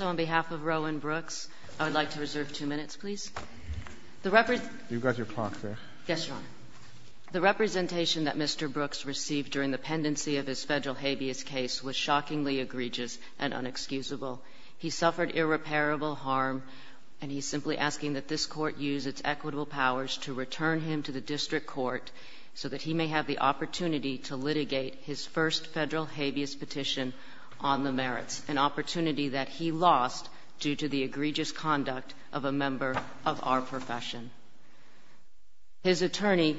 on behalf of Rowan Brooks, I would like to reserve two minutes, please. The Representation that Mr. Brooks received during the pendency of his federal habeas case was shockingly egregious and unexcusable. He suffered irreparable harm, and he is simply asking that this Court use its equitable powers to return him to the district court so that he may have the opportunity to litigate his first federal habeas petition on the merits, an opportunity that he lost due to the egregious conduct of a member of our profession. His attorney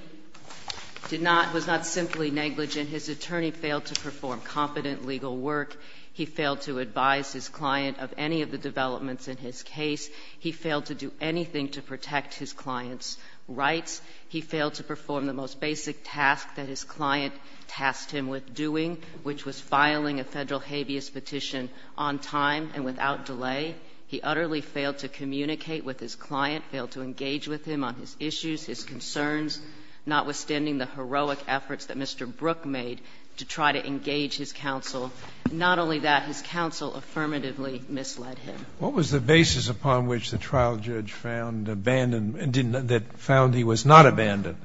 did not — was not simply negligent. His attorney failed to perform competent legal work. He failed to advise his client of any of the developments in his case. He failed to do anything to protect his client's rights. He failed to perform the most basic task that his client tasked him with doing, which was filing a federal habeas petition on time and without delay. He utterly failed to communicate with his client, failed to engage with him on his issues, his concerns, notwithstanding the heroic efforts that Mr. Brooks made to try to engage his counsel. Not only that, his counsel affirmatively misled him. Sotomayor, what was the basis upon which the trial judge found abandoned and didn't — that found he was not abandoned?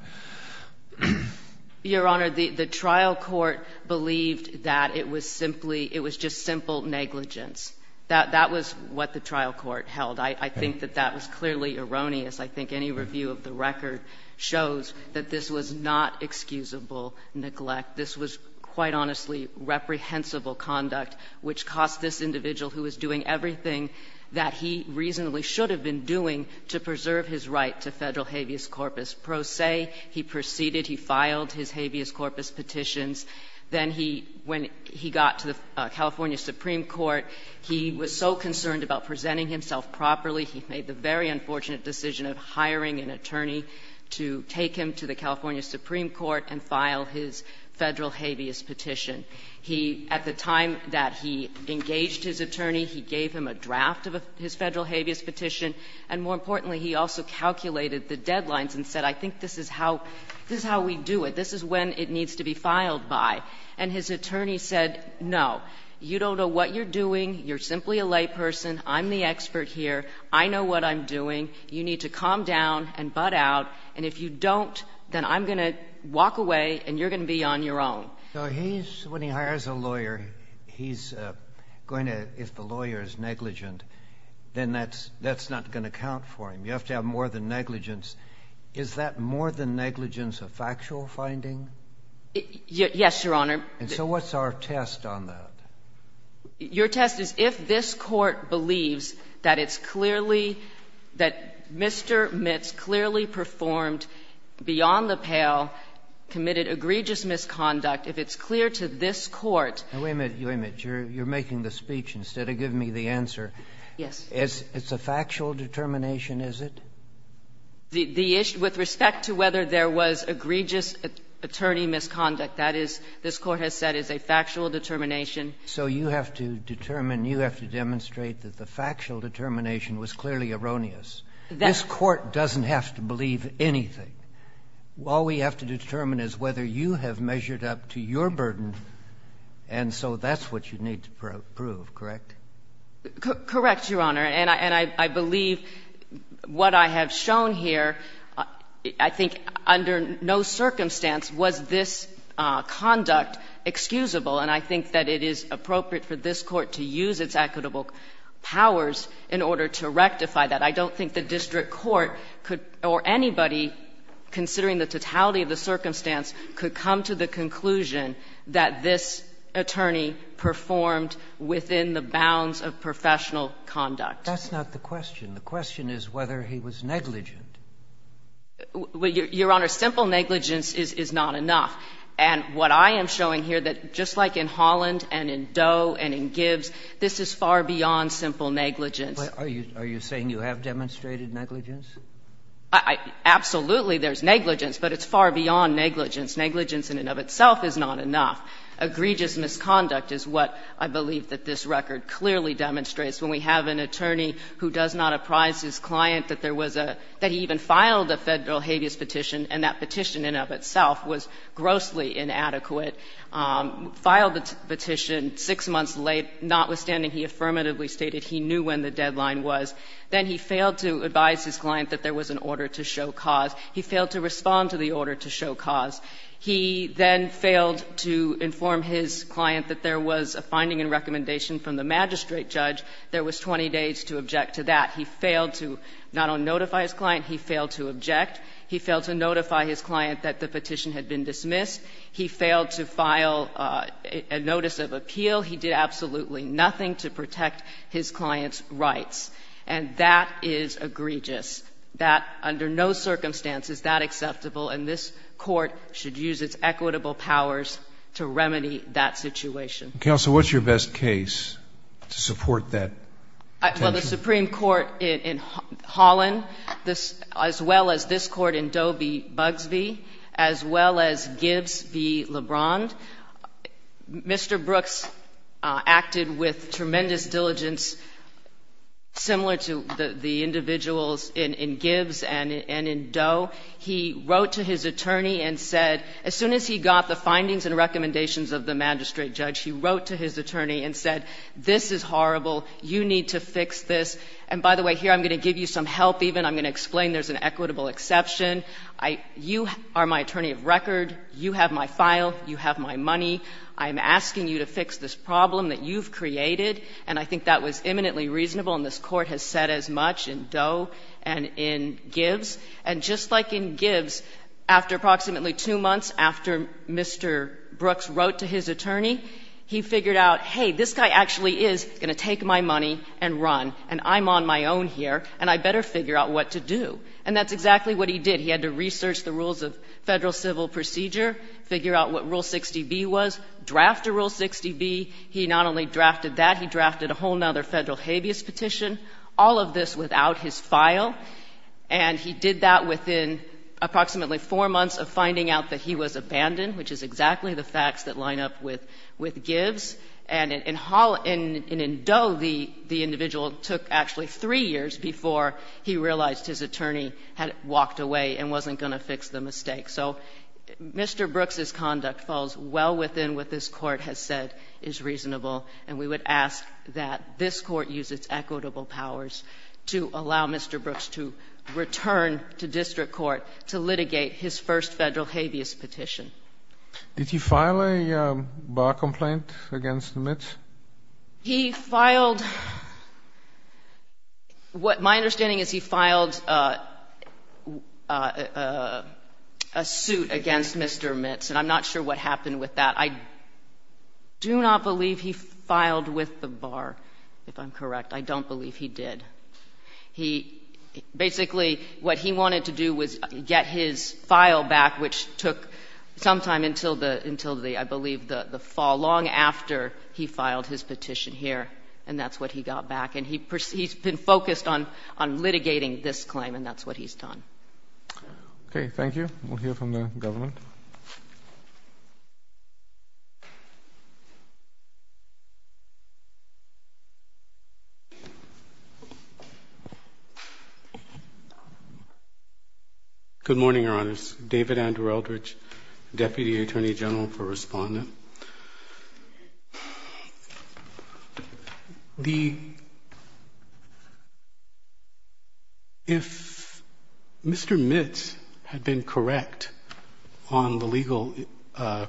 Your Honor, the trial court believed that it was simply — it was just simple negligence. That was what the trial court held. I think that that was clearly erroneous. I think any review of the record shows that this was not excusable neglect. This was, quite honestly, reprehensible conduct, which cost this individual who was doing everything that he reasonably should have been doing to preserve his right to federal habeas corpus pro se. He proceeded. He filed his habeas corpus petitions. Then he — when he got to the California Supreme Court, he was so concerned about presenting himself properly, he made the very unfortunate decision of hiring an attorney to take him to the California Supreme Court and file his federal habeas petition. He, at the time that he engaged his attorney, he gave him a draft of his federal habeas petition, and more importantly, he also calculated the deadlines and said, I think this is how — this is how we do it, this is when it needs to be filed by. And his attorney said, no, you don't know what you're doing, you're simply a layperson, I'm the expert here, I know what I'm doing, you need to calm down and butt out, and if you don't, then I'm going to walk away and you're going to be on your own. So he's — when he hires a lawyer, he's going to — if the lawyer is negligent, then that's not going to count for him. You have to have more than negligence. Is that more than negligence of factual finding? Yes, Your Honor. And so what's our test on that? Your test is if this Court believes that it's clearly — that Mr. Mitts clearly performed, beyond the pale, committed egregious misconduct, if it's clear to this Court — Now, wait a minute. Wait a minute. You're making the speech instead of giving me the answer. Yes. It's a factual determination, is it? The issue — with respect to whether there was egregious attorney misconduct. That is — this Court has said is a factual determination. So you have to determine — you have to demonstrate that the factual determination was clearly erroneous. This Court doesn't have to believe anything. All we have to determine is whether you have measured up to your burden, and so that's what you need to prove, correct? Correct, Your Honor. And I believe what I have shown here, I think under no circumstance was this conduct excusable, and I think that it is appropriate for this Court to use its equitable powers in order to rectify that. I don't think the district court could — or anybody, considering the totality of the circumstance, could come to the conclusion that this attorney performed within the bounds of professional conduct. That's not the question. The question is whether he was negligent. Well, Your Honor, simple negligence is not enough. And what I am showing here, that just like in Holland and in Doe and in Gibbs, this is far beyond simple negligence. Are you saying you have demonstrated negligence? Absolutely, there's negligence, but it's far beyond negligence. Negligence in and of itself is not enough. Egregious misconduct is what I believe that this record clearly demonstrates. When we have an attorney who does not apprise his client that there was a — that he even filed a Federal habeas petition, and that petition in and of itself was grossly inadequate, filed the petition 6 months late, notwithstanding he affirmatively stated he knew when the deadline was, then he failed to advise his client that there was an order to show cause, he failed to respond to the order to show cause, he then failed to inform his client that there was a finding and recommendation from the magistrate judge, there was 20 days to object to that. He failed to not only notify his client, he failed to object. He failed to notify his client that the petition had been dismissed. He failed to file a notice of appeal. He did absolutely nothing to protect his client's rights. And that is egregious. That, under no circumstances, that acceptable, and this Court should use its equitable powers to remedy that situation. Counsel, what's your best case to support that? Well, the Supreme Court in Holland, this — as well as this Court in Dobey-Bugsbee, as well as Gibbs v. LeBron. Mr. Brooks acted with tremendous diligence, similar to the individuals in Gibbs and in Doe. He wrote to his attorney and said, as soon as he got the findings and recommendations of the magistrate judge, he wrote to his attorney and said, this is horrible, you need to fix this. And by the way, here I'm going to give you some help even. I'm going to explain there's an equitable exception. I — you are my attorney of record. You have my file. You have my case. You have my money. I'm asking you to fix this problem that you've created. And I think that was eminently reasonable, and this Court has said as much in Doe and in Gibbs. And just like in Gibbs, after approximately two months, after Mr. Brooks wrote to his attorney, he figured out, hey, this guy actually is going to take my money and run, and I'm on my own here, and I better figure out what to do. And that's exactly what he did. He had to research the rules of Federal civil procedure, figure out what Rule 60B was, draft a Rule 60B. He not only drafted that, he drafted a whole other Federal habeas petition, all of this without his file. And he did that within approximately four months of finding out that he was abandoned, which is exactly the facts that line up with Gibbs. And in Doe, the individual took actually three years before he realized his attorney had walked away and wasn't going to fix the mistake. So Mr. Brooks's conduct falls well within what this Court has said is reasonable, and we would ask that this Court use its equitable powers to allow Mr. Brooks to return to district court to litigate his first Federal habeas petition. Did he file a bar complaint against Mitch? He filed — what my understanding is he filed a suit against Mr. Mitch, and I'm not sure what happened with that. I do not believe he filed with the bar, if I'm correct. I don't believe he did. He — basically, what he wanted to do was get his file back, which took some time until the — I believe the fall, long after he filed his petition here. And that's what he got back. And he's been focused on litigating this claim, and that's what he's done. Okay. Thank you. We'll hear from the government. Good morning, Your Honors. David Andrew Eldridge, Deputy Attorney General for Respondent. The — if Mr. Mitch had been correct on the legal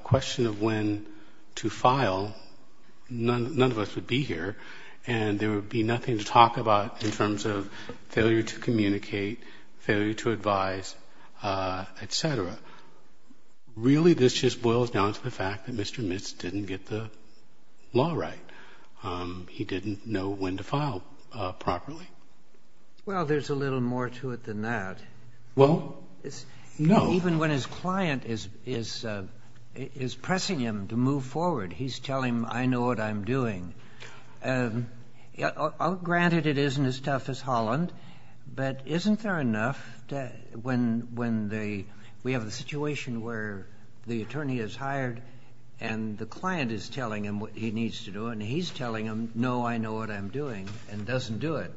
question of when to file, none of us would be here, and there would be nothing to talk about in terms of failure to communicate, failure to advise, et cetera. Really, this just boils down to the fact that Mr. Mitch didn't get the law right. He didn't know when to file properly. Well, there's a little more to it than that. Well, no. Even when his client is pressing him to move forward, he's telling him, I know what I'm doing. Granted, it isn't as tough as Holland, but isn't there enough to — when the — we have a situation where the attorney is hired and the client is telling him what he needs to do, and he's telling him, no, I know what I'm doing, and doesn't do it.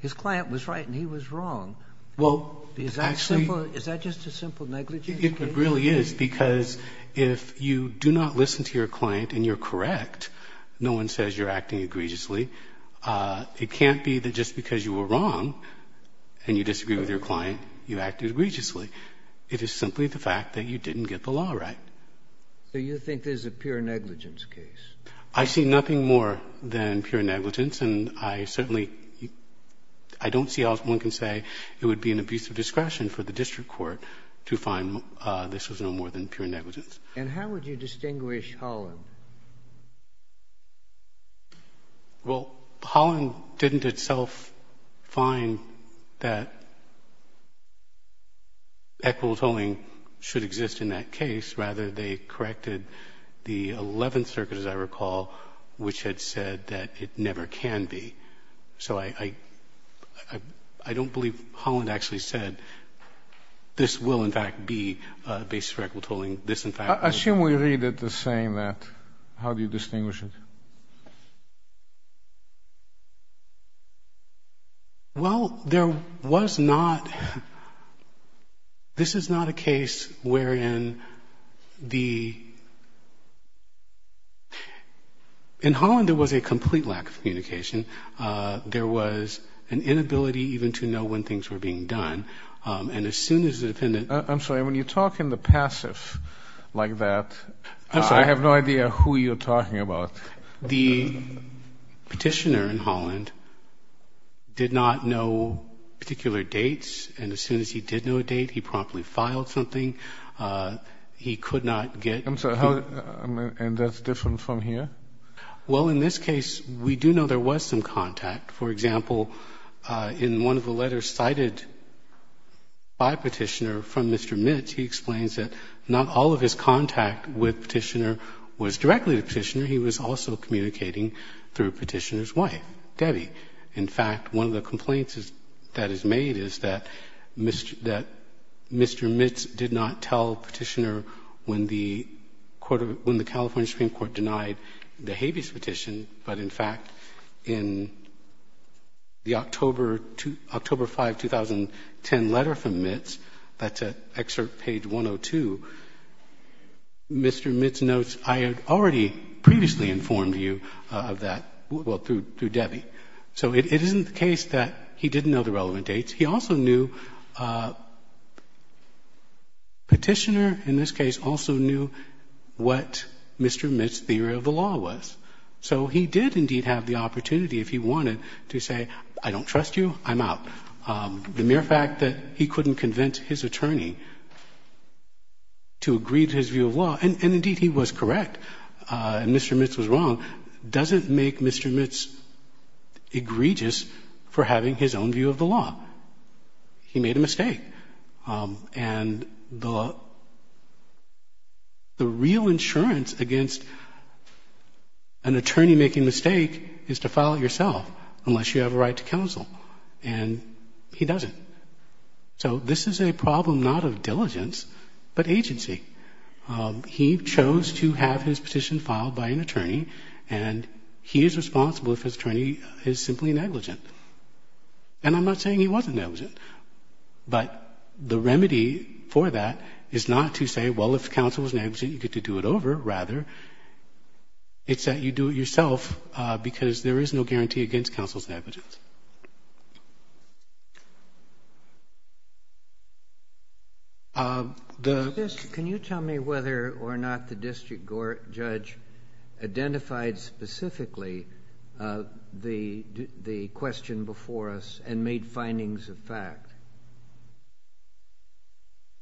His client was right and he was wrong. Well, actually — Is that simple? Is that just a simple negligence case? It really is, because if you do not listen to your client and you're correct, no one says you're acting egregiously. It can't be that just because you were wrong and you disagree with your client, you acted egregiously. It is simply the fact that you didn't get the law right. So you think this is a pure negligence case? I see nothing more than pure negligence, and I certainly — I don't see how one can say it would be an abuse of discretion for the district court to find this was no more than pure negligence. And how would you distinguish Holland? Well, Holland didn't itself find that equitable tolling should exist in that case. Rather, they corrected the Eleventh Circuit, as I recall, which had said that it never can be. So I don't believe Holland actually said this will, in fact, be a basis for equitable tolling. Assume we read it as saying that. How do you distinguish it? Well, there was not — this is not a case wherein the — in Holland, there was a complete lack of communication. There was an inability even to know when things were being done. And as soon as the defendant — I'm sorry, when you talk in the passive like that, I have no idea who you're talking about. The petitioner in Holland did not know particular dates. And as soon as he did know a date, he promptly filed something. He could not get — I'm sorry, how — and that's different from here? Well, in this case, we do know there was some contact. For example, in one of the letters cited by Petitioner from Mr. Mitts, he explains that not all of his contact with Petitioner was directly to Petitioner. He was also communicating through Petitioner's wife, Debbie. In fact, one of the complaints that is made is that Mr. Mitts did not tell Petitioner when the California Supreme Court denied the habeas petition, but in fact, in the October 5, 2010 letter from Mitts, that's at excerpt page 102, Mr. Mitts notes, I had already previously informed you of that, well, through Debbie. So it isn't the case that he didn't know the relevant dates. He also knew — Petitioner, in this case, also knew what Mr. Mitts' theory of the law was. So he did indeed have the opportunity, if he wanted, to say, I don't trust you, I'm out. The mere fact that he couldn't convince his attorney to agree to his view of law, and indeed, he was correct, and Mr. Mitts was wrong, doesn't make Mr. Mitts egregious for having his own view of the law. He made a mistake. And the real insurance against an attorney making a mistake is to file it yourself, unless you have a right to counsel, and he doesn't. So this is a problem not of diligence, but agency. He chose to have his petition filed by an attorney, and he is responsible if his attorney is simply negligent. And I'm not saying he wasn't negligent. But the remedy for that is not to say, well, if counsel was negligent, you get to do it over. Rather, it's that you do it yourself, because there is no guarantee against counsel's negligence. Can you tell me whether or not the district judge identified specifically the question before us and made findings of fact?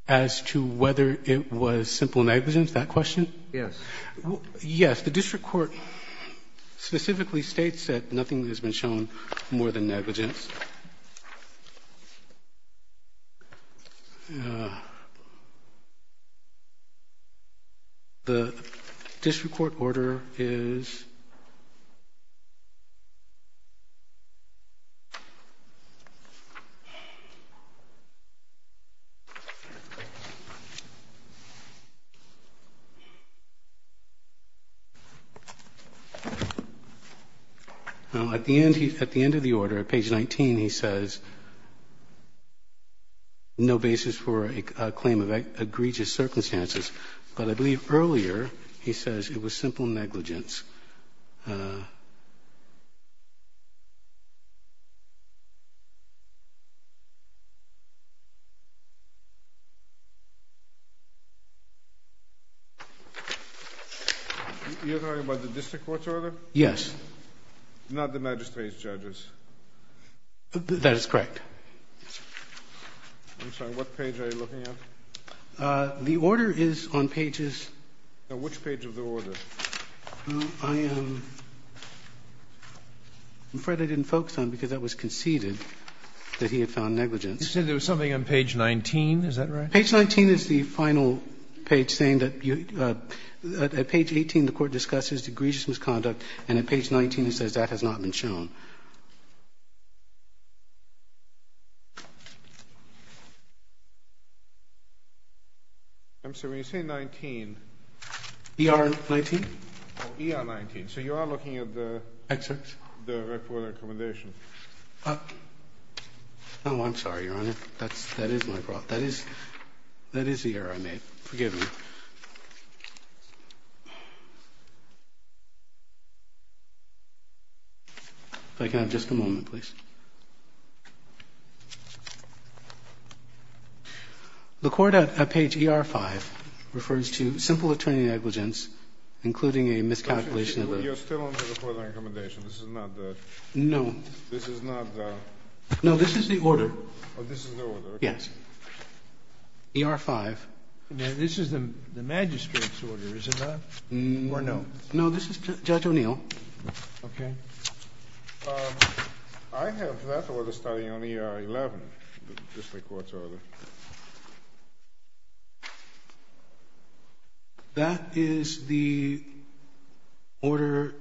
As to whether it was simple negligence, that question? Yes. Yes. The district court specifically states that nothing has been shown more than negligence. The district court order is At the end of the order, at page 19, he says, no basis for a claim of egregious circumstances. But I believe earlier he says it was simple negligence. You're talking about the district court's order? Yes. Not the magistrate's judge's? That is correct. I'm sorry. What page are you looking at? The order is on pages Which page of the order? I'm afraid I didn't focus on it because that was conceded. That he had found negligence. You said there was something on page 19, is that right? Page 19 is the final page saying that at page 18 the court discusses egregious misconduct, and at page 19 it says that has not been shown. I'm sorry. You say 19. ER 19? ER 19. So you are looking at the record of recommendation. Oh, I'm sorry, Your Honor. That is my fault. That is the error I made. Forgive me. If I can have just a moment, please. The court at page ER 5 refers to simple attorney negligence, including a miscalculation You are still under the court of recommendation. This is not the No. This is not the No, this is the order. Oh, this is the order. Yes. ER 5. This is the magistrate's order, is it not? No. Or no? No, this is Judge O'Neill. Okay. I have that order starting on ER 11, the district court's order. That is the order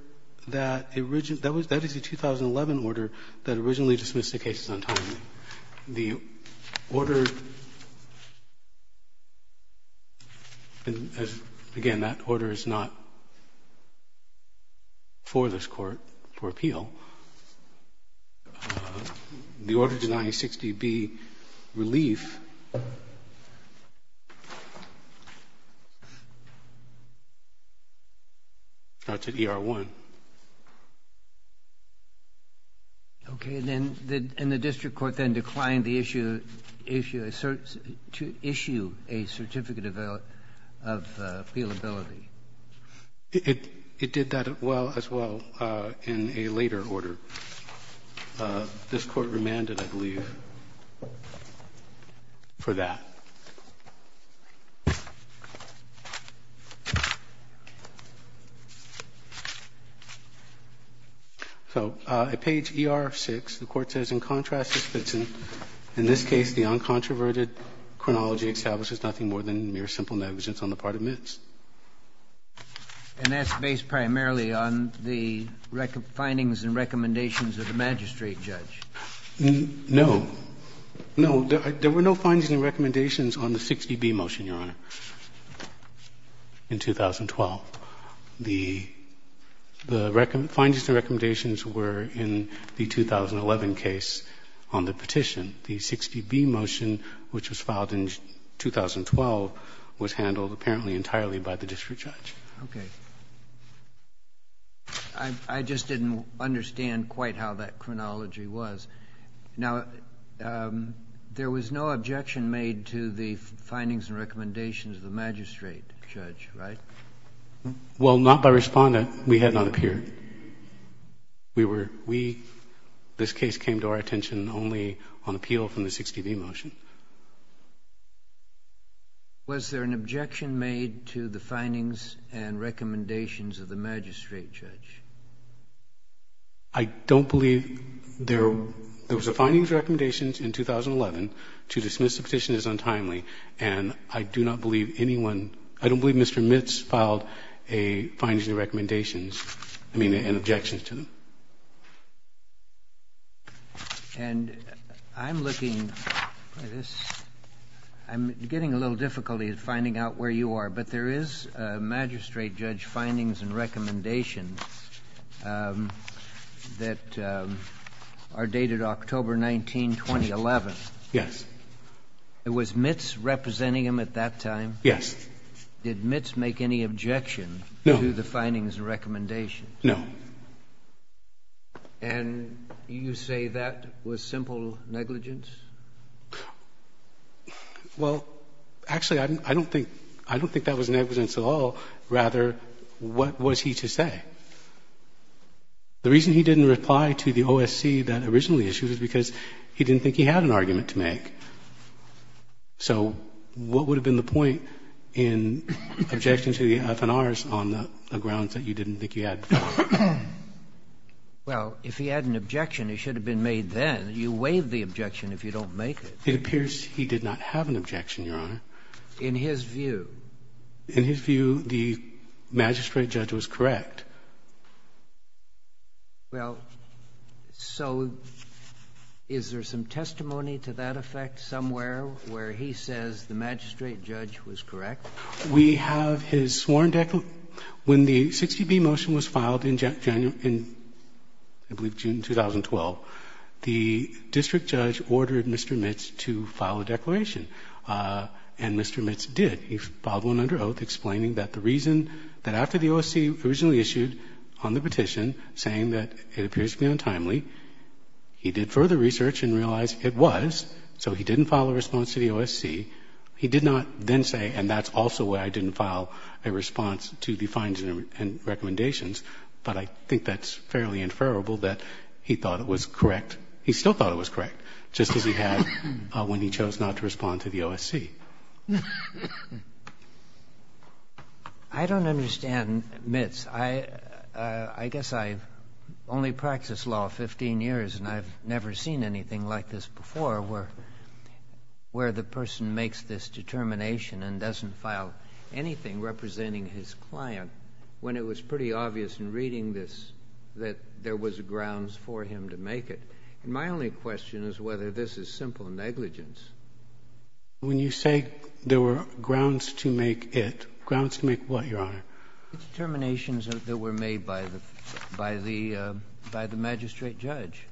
that originally That is the 2011 order that originally dismissed the case as untimely. The order, again, that order is not for this court for appeal. The order denying 6dB relief, that's at ER 1. Okay. And then the district court then declined the issue to issue a certificate of appealability. It did that as well in a later order. This court remanded, I believe, for that. So at page ER 6, the court says, in contrast to Spitzen, in this case, the uncontroverted chronology establishes nothing more than mere simple negligence on the part of Mitz. And that's based primarily on the findings and recommendations of the magistrate judge? No. No, there were no findings and recommendations on the 6dB motion, Your Honor, in 2012. The findings and recommendations were in the 2011 case on the petition. The 6dB motion, which was filed in 2012, was handled apparently entirely by the district judge. Okay. I just didn't understand quite how that chronology was. Now, there was no objection made to the findings and recommendations of the magistrate judge, right? Well, not by Respondent. We had not appeared. We were, we, this case came to our attention only on appeal from the 6dB motion. Was there an objection made to the findings and recommendations of the magistrate judge? I don't believe there, there was a findings and recommendations in 2011. To dismiss the petition is untimely. And I do not believe anyone, I don't believe Mr. Mitz filed a findings and recommendations. I mean, and objections to them. And I'm looking, I'm getting a little difficult at finding out where you are, but there is magistrate judge findings and recommendations that are dated October 19, 2011. Yes. Was Mitz representing them at that time? Yes. Did Mitz make any objection to the findings and recommendations? No. And you say that was simple negligence? Well, actually, I don't think, I don't think that was negligence at all. Rather, what was he to say? The reason he didn't reply to the OSC that originally issued it was because he didn't think he had an argument to make. So what would have been the point in objecting to the FNRs on the grounds that you didn't think you had? Well, if he had an objection, it should have been made then. You waive the objection if you don't make it. It appears he did not have an objection, Your Honor. In his view? In his view, the magistrate judge was correct. Well, so is there some testimony to that effect somewhere where he says the magistrate judge was correct? We have his sworn declaration. When the 60B motion was filed in January, I believe June 2012, the district judge ordered Mr. Mitz to file a declaration. And Mr. Mitz did. He filed one under oath explaining that the reason that after the OSC originally issued on the petition saying that it appears to be untimely, he did further research and realized it was. So he didn't file a response to the OSC. He did not then say, and that's also why I didn't file a response to the fines and recommendations. But I think that's fairly inferrable that he thought it was correct. He still thought it was correct, just as he had when he chose not to respond to the OSC. I don't understand, Mitz. I guess I've only practiced law 15 years, and I've never seen anything like this before, where the person makes this determination and doesn't file anything representing his client, when it was pretty obvious in reading this that there was grounds for him to make it. And my only question is whether this is simple negligence. When you say there were grounds to make it, grounds to make what, Your Honor? Determinations that were made by the magistrate judge.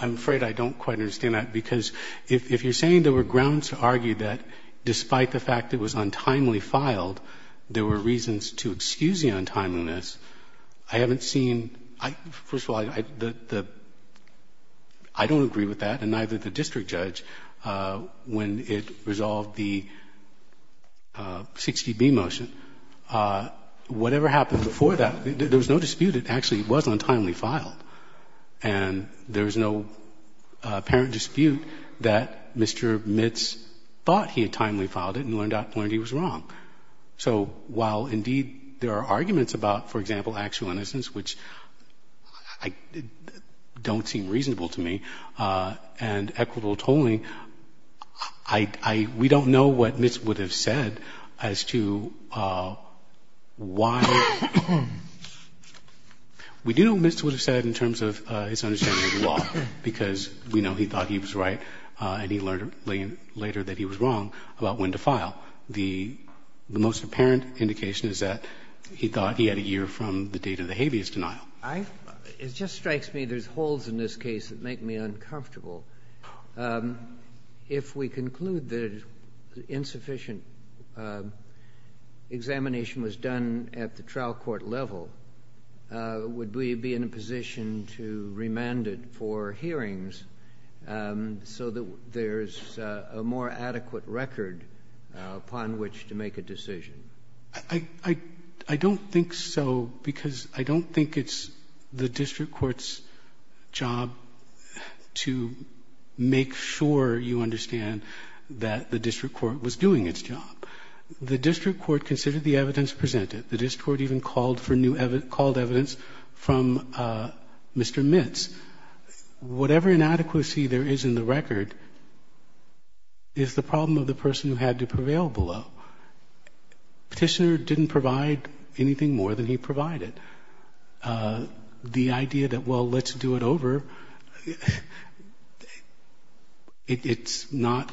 I'm afraid I don't quite understand that, because if you're saying there were grounds to argue that despite the fact it was untimely filed, there were reasons to excuse the untimeliness, I haven't seen, first of all, I don't agree with that, and neither did the district judge, when it resolved the 60B motion. Whatever happened before that, there was no dispute it actually was untimely filed. And there was no apparent dispute that Mr. Mitz thought he had timely filed it and learned he was wrong. So while indeed there are arguments about, for example, actual innocence, which don't seem reasonable to me, and equitable tolling, we don't know what Mitz would have said as to why. We do know what Mitz would have said in terms of his understanding of the law, because we know he thought he was right and he learned later that he was wrong about when to file. The most apparent indication is that he thought he had a year from the date of the habeas denial. It just strikes me there's holes in this case that make me uncomfortable. If we conclude that insufficient examination was done at the trial court level, would we be in a position to remand it for hearings so that there's a more adequate record upon which to make a decision? I don't think so, because I don't think it's the district court's job to make sure you understand that the district court was doing its job. The district court considered the evidence presented. The district court even called for new evidence, called evidence from Mr. Mitz. Whatever inadequacy there is in the record is the problem of the person who had to prevail below. Petitioner didn't provide anything more than he provided. The idea that, well, let's do it over, it's not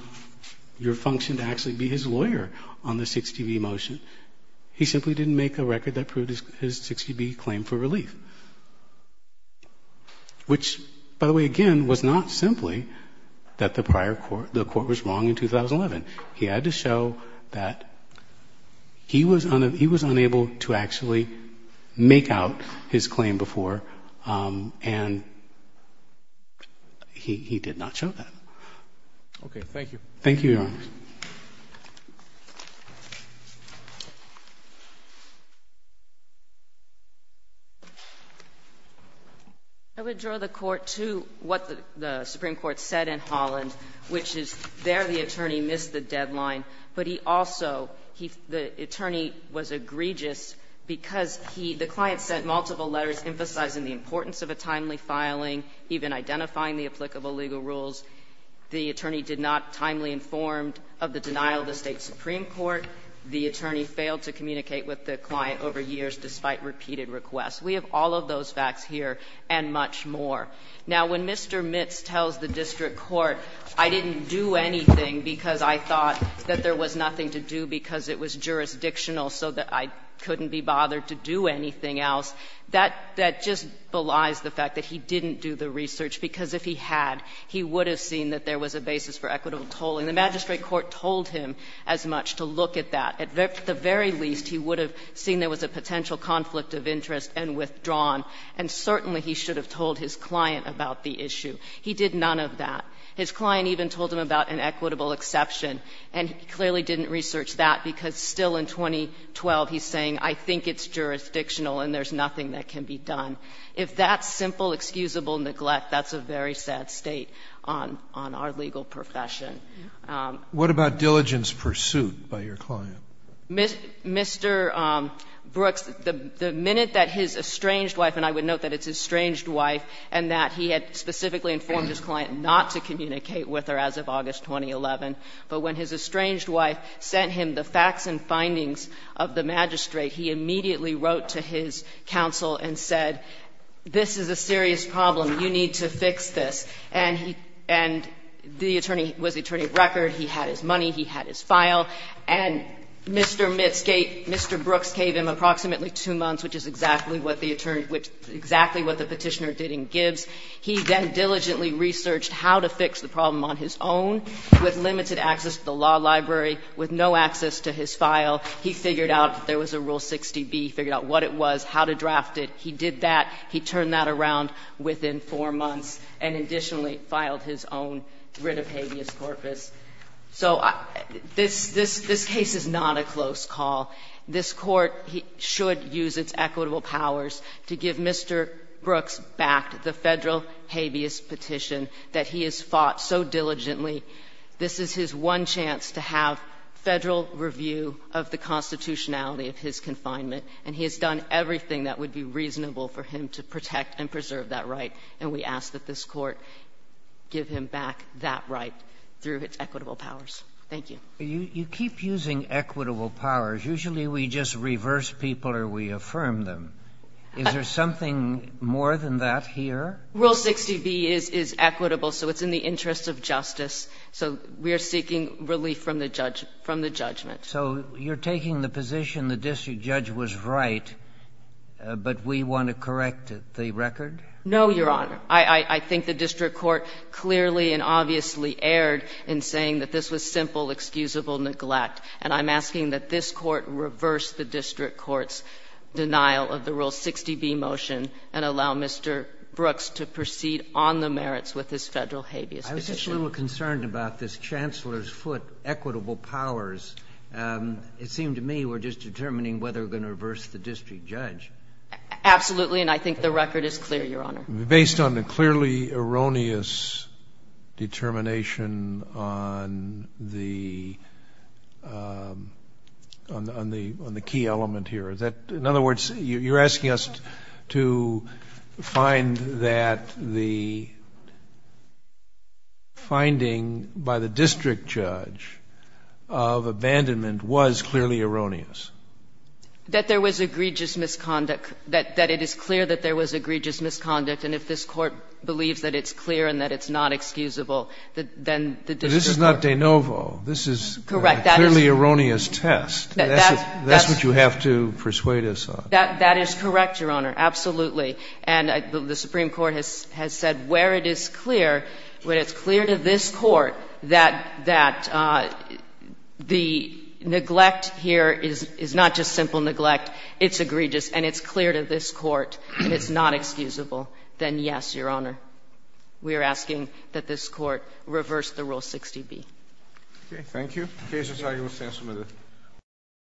your function to actually be his lawyer on the 60B motion. He simply didn't make a record that proved his 60B claim for relief. Which, by the way, again, was not simply that the prior court, the court was wrong in 2011. He had to show that he was unable to actually make out his claim before, and he did not show that. Okay, thank you. Thank you, Your Honor. I would draw the Court to what the Supreme Court said in Holland, which is there the attorney missed the deadline, but he also, the attorney was egregious because he, the client sent multiple letters emphasizing the importance of a timely filing, even identifying the applicable legal rules. The attorney did not timely informed of the denial of the State Supreme Court. The attorney failed to communicate with the client over years despite repeated requests. We have all of those facts here and much more. Now, when Mr. Mitz tells the district court, I didn't do anything because I thought that there was nothing to do because it was jurisdictional so that I couldn't be bothered to do anything else, that just belies the fact that he didn't do the research. Because if he had, he would have seen that there was a basis for equitable tolling. The magistrate court told him as much to look at that. At the very least, he would have seen there was a potential conflict of interest and withdrawn. And certainly he should have told his client about the issue. He did none of that. His client even told him about an equitable exception. And he clearly didn't research that because still in 2012 he's saying, I think it's jurisdictional and there's nothing that can be done. If that's simple, excusable neglect, that's a very sad state on our legal profession. What about diligence pursuit by your client? Mr. Brooks, the minute that his estranged wife, and I would note that it's estranged wife, and that he had specifically informed his client not to communicate with her as of August 2011, but when his estranged wife sent him the facts and findings of the magistrate, he immediately wrote to his counsel and said, this is a serious problem, you need to fix this. And the attorney was the attorney of record. He had his money. He had his file. And Mr. Brooks gave him approximately two months, which is exactly what the petitioner did in Gibbs. He then diligently researched how to fix the problem on his own with limited access to the law library, with no access to his file. He figured out that there was a Rule 60B. He figured out what it was, how to draft it. He did that. He turned that around within four months. And additionally, filed his own writ of habeas corpus. So this case is not a close call. This Court should use its equitable powers to give Mr. Brooks back the Federal habeas petition that he has fought so diligently. This is his one chance to have Federal review of the constitutionality of his confinement, and he has done everything that would be reasonable for him to protect and preserve that right. And we ask that this Court give him back that right through its equitable powers. Thank you. You keep using equitable powers. Usually we just reverse people or we affirm them. Is there something more than that here? Rule 60B is equitable, so it's in the interest of justice. So we are seeking relief from the judgment. So you're taking the position the district judge was right, but we want to correct the record? No, Your Honor. I think the district court clearly and obviously erred in saying that this was simple, excusable neglect. And I'm asking that this Court reverse the district court's denial of the Rule 60B motion and allow Mr. Brooks to proceed on the merits with his Federal habeas petition. I was just a little concerned about this Chancellor's foot, equitable powers. It seemed to me we're just determining whether we're going to reverse the district judge. Absolutely. And I think the record is clear, Your Honor. Based on the clearly erroneous determination on the key element here. In other words, you're asking us to find that the finding by the district judge of abandonment was clearly erroneous? That there was egregious misconduct. That it is clear that there was egregious misconduct. And if this Court believes that it's clear and that it's not excusable, then the district court. But this is not de novo. This is a clearly erroneous test. That's what you have to persuade us on. That is correct, Your Honor. Absolutely. And the Supreme Court has said where it is clear, where it's clear to this Court that the neglect here is not just simple neglect. It's egregious. And it's clear to this Court that it's not excusable. Then, yes, Your Honor. We are asking that this Court reverse the Rule 60B. Okay. Thank you. The case is argued with thanks from the Court.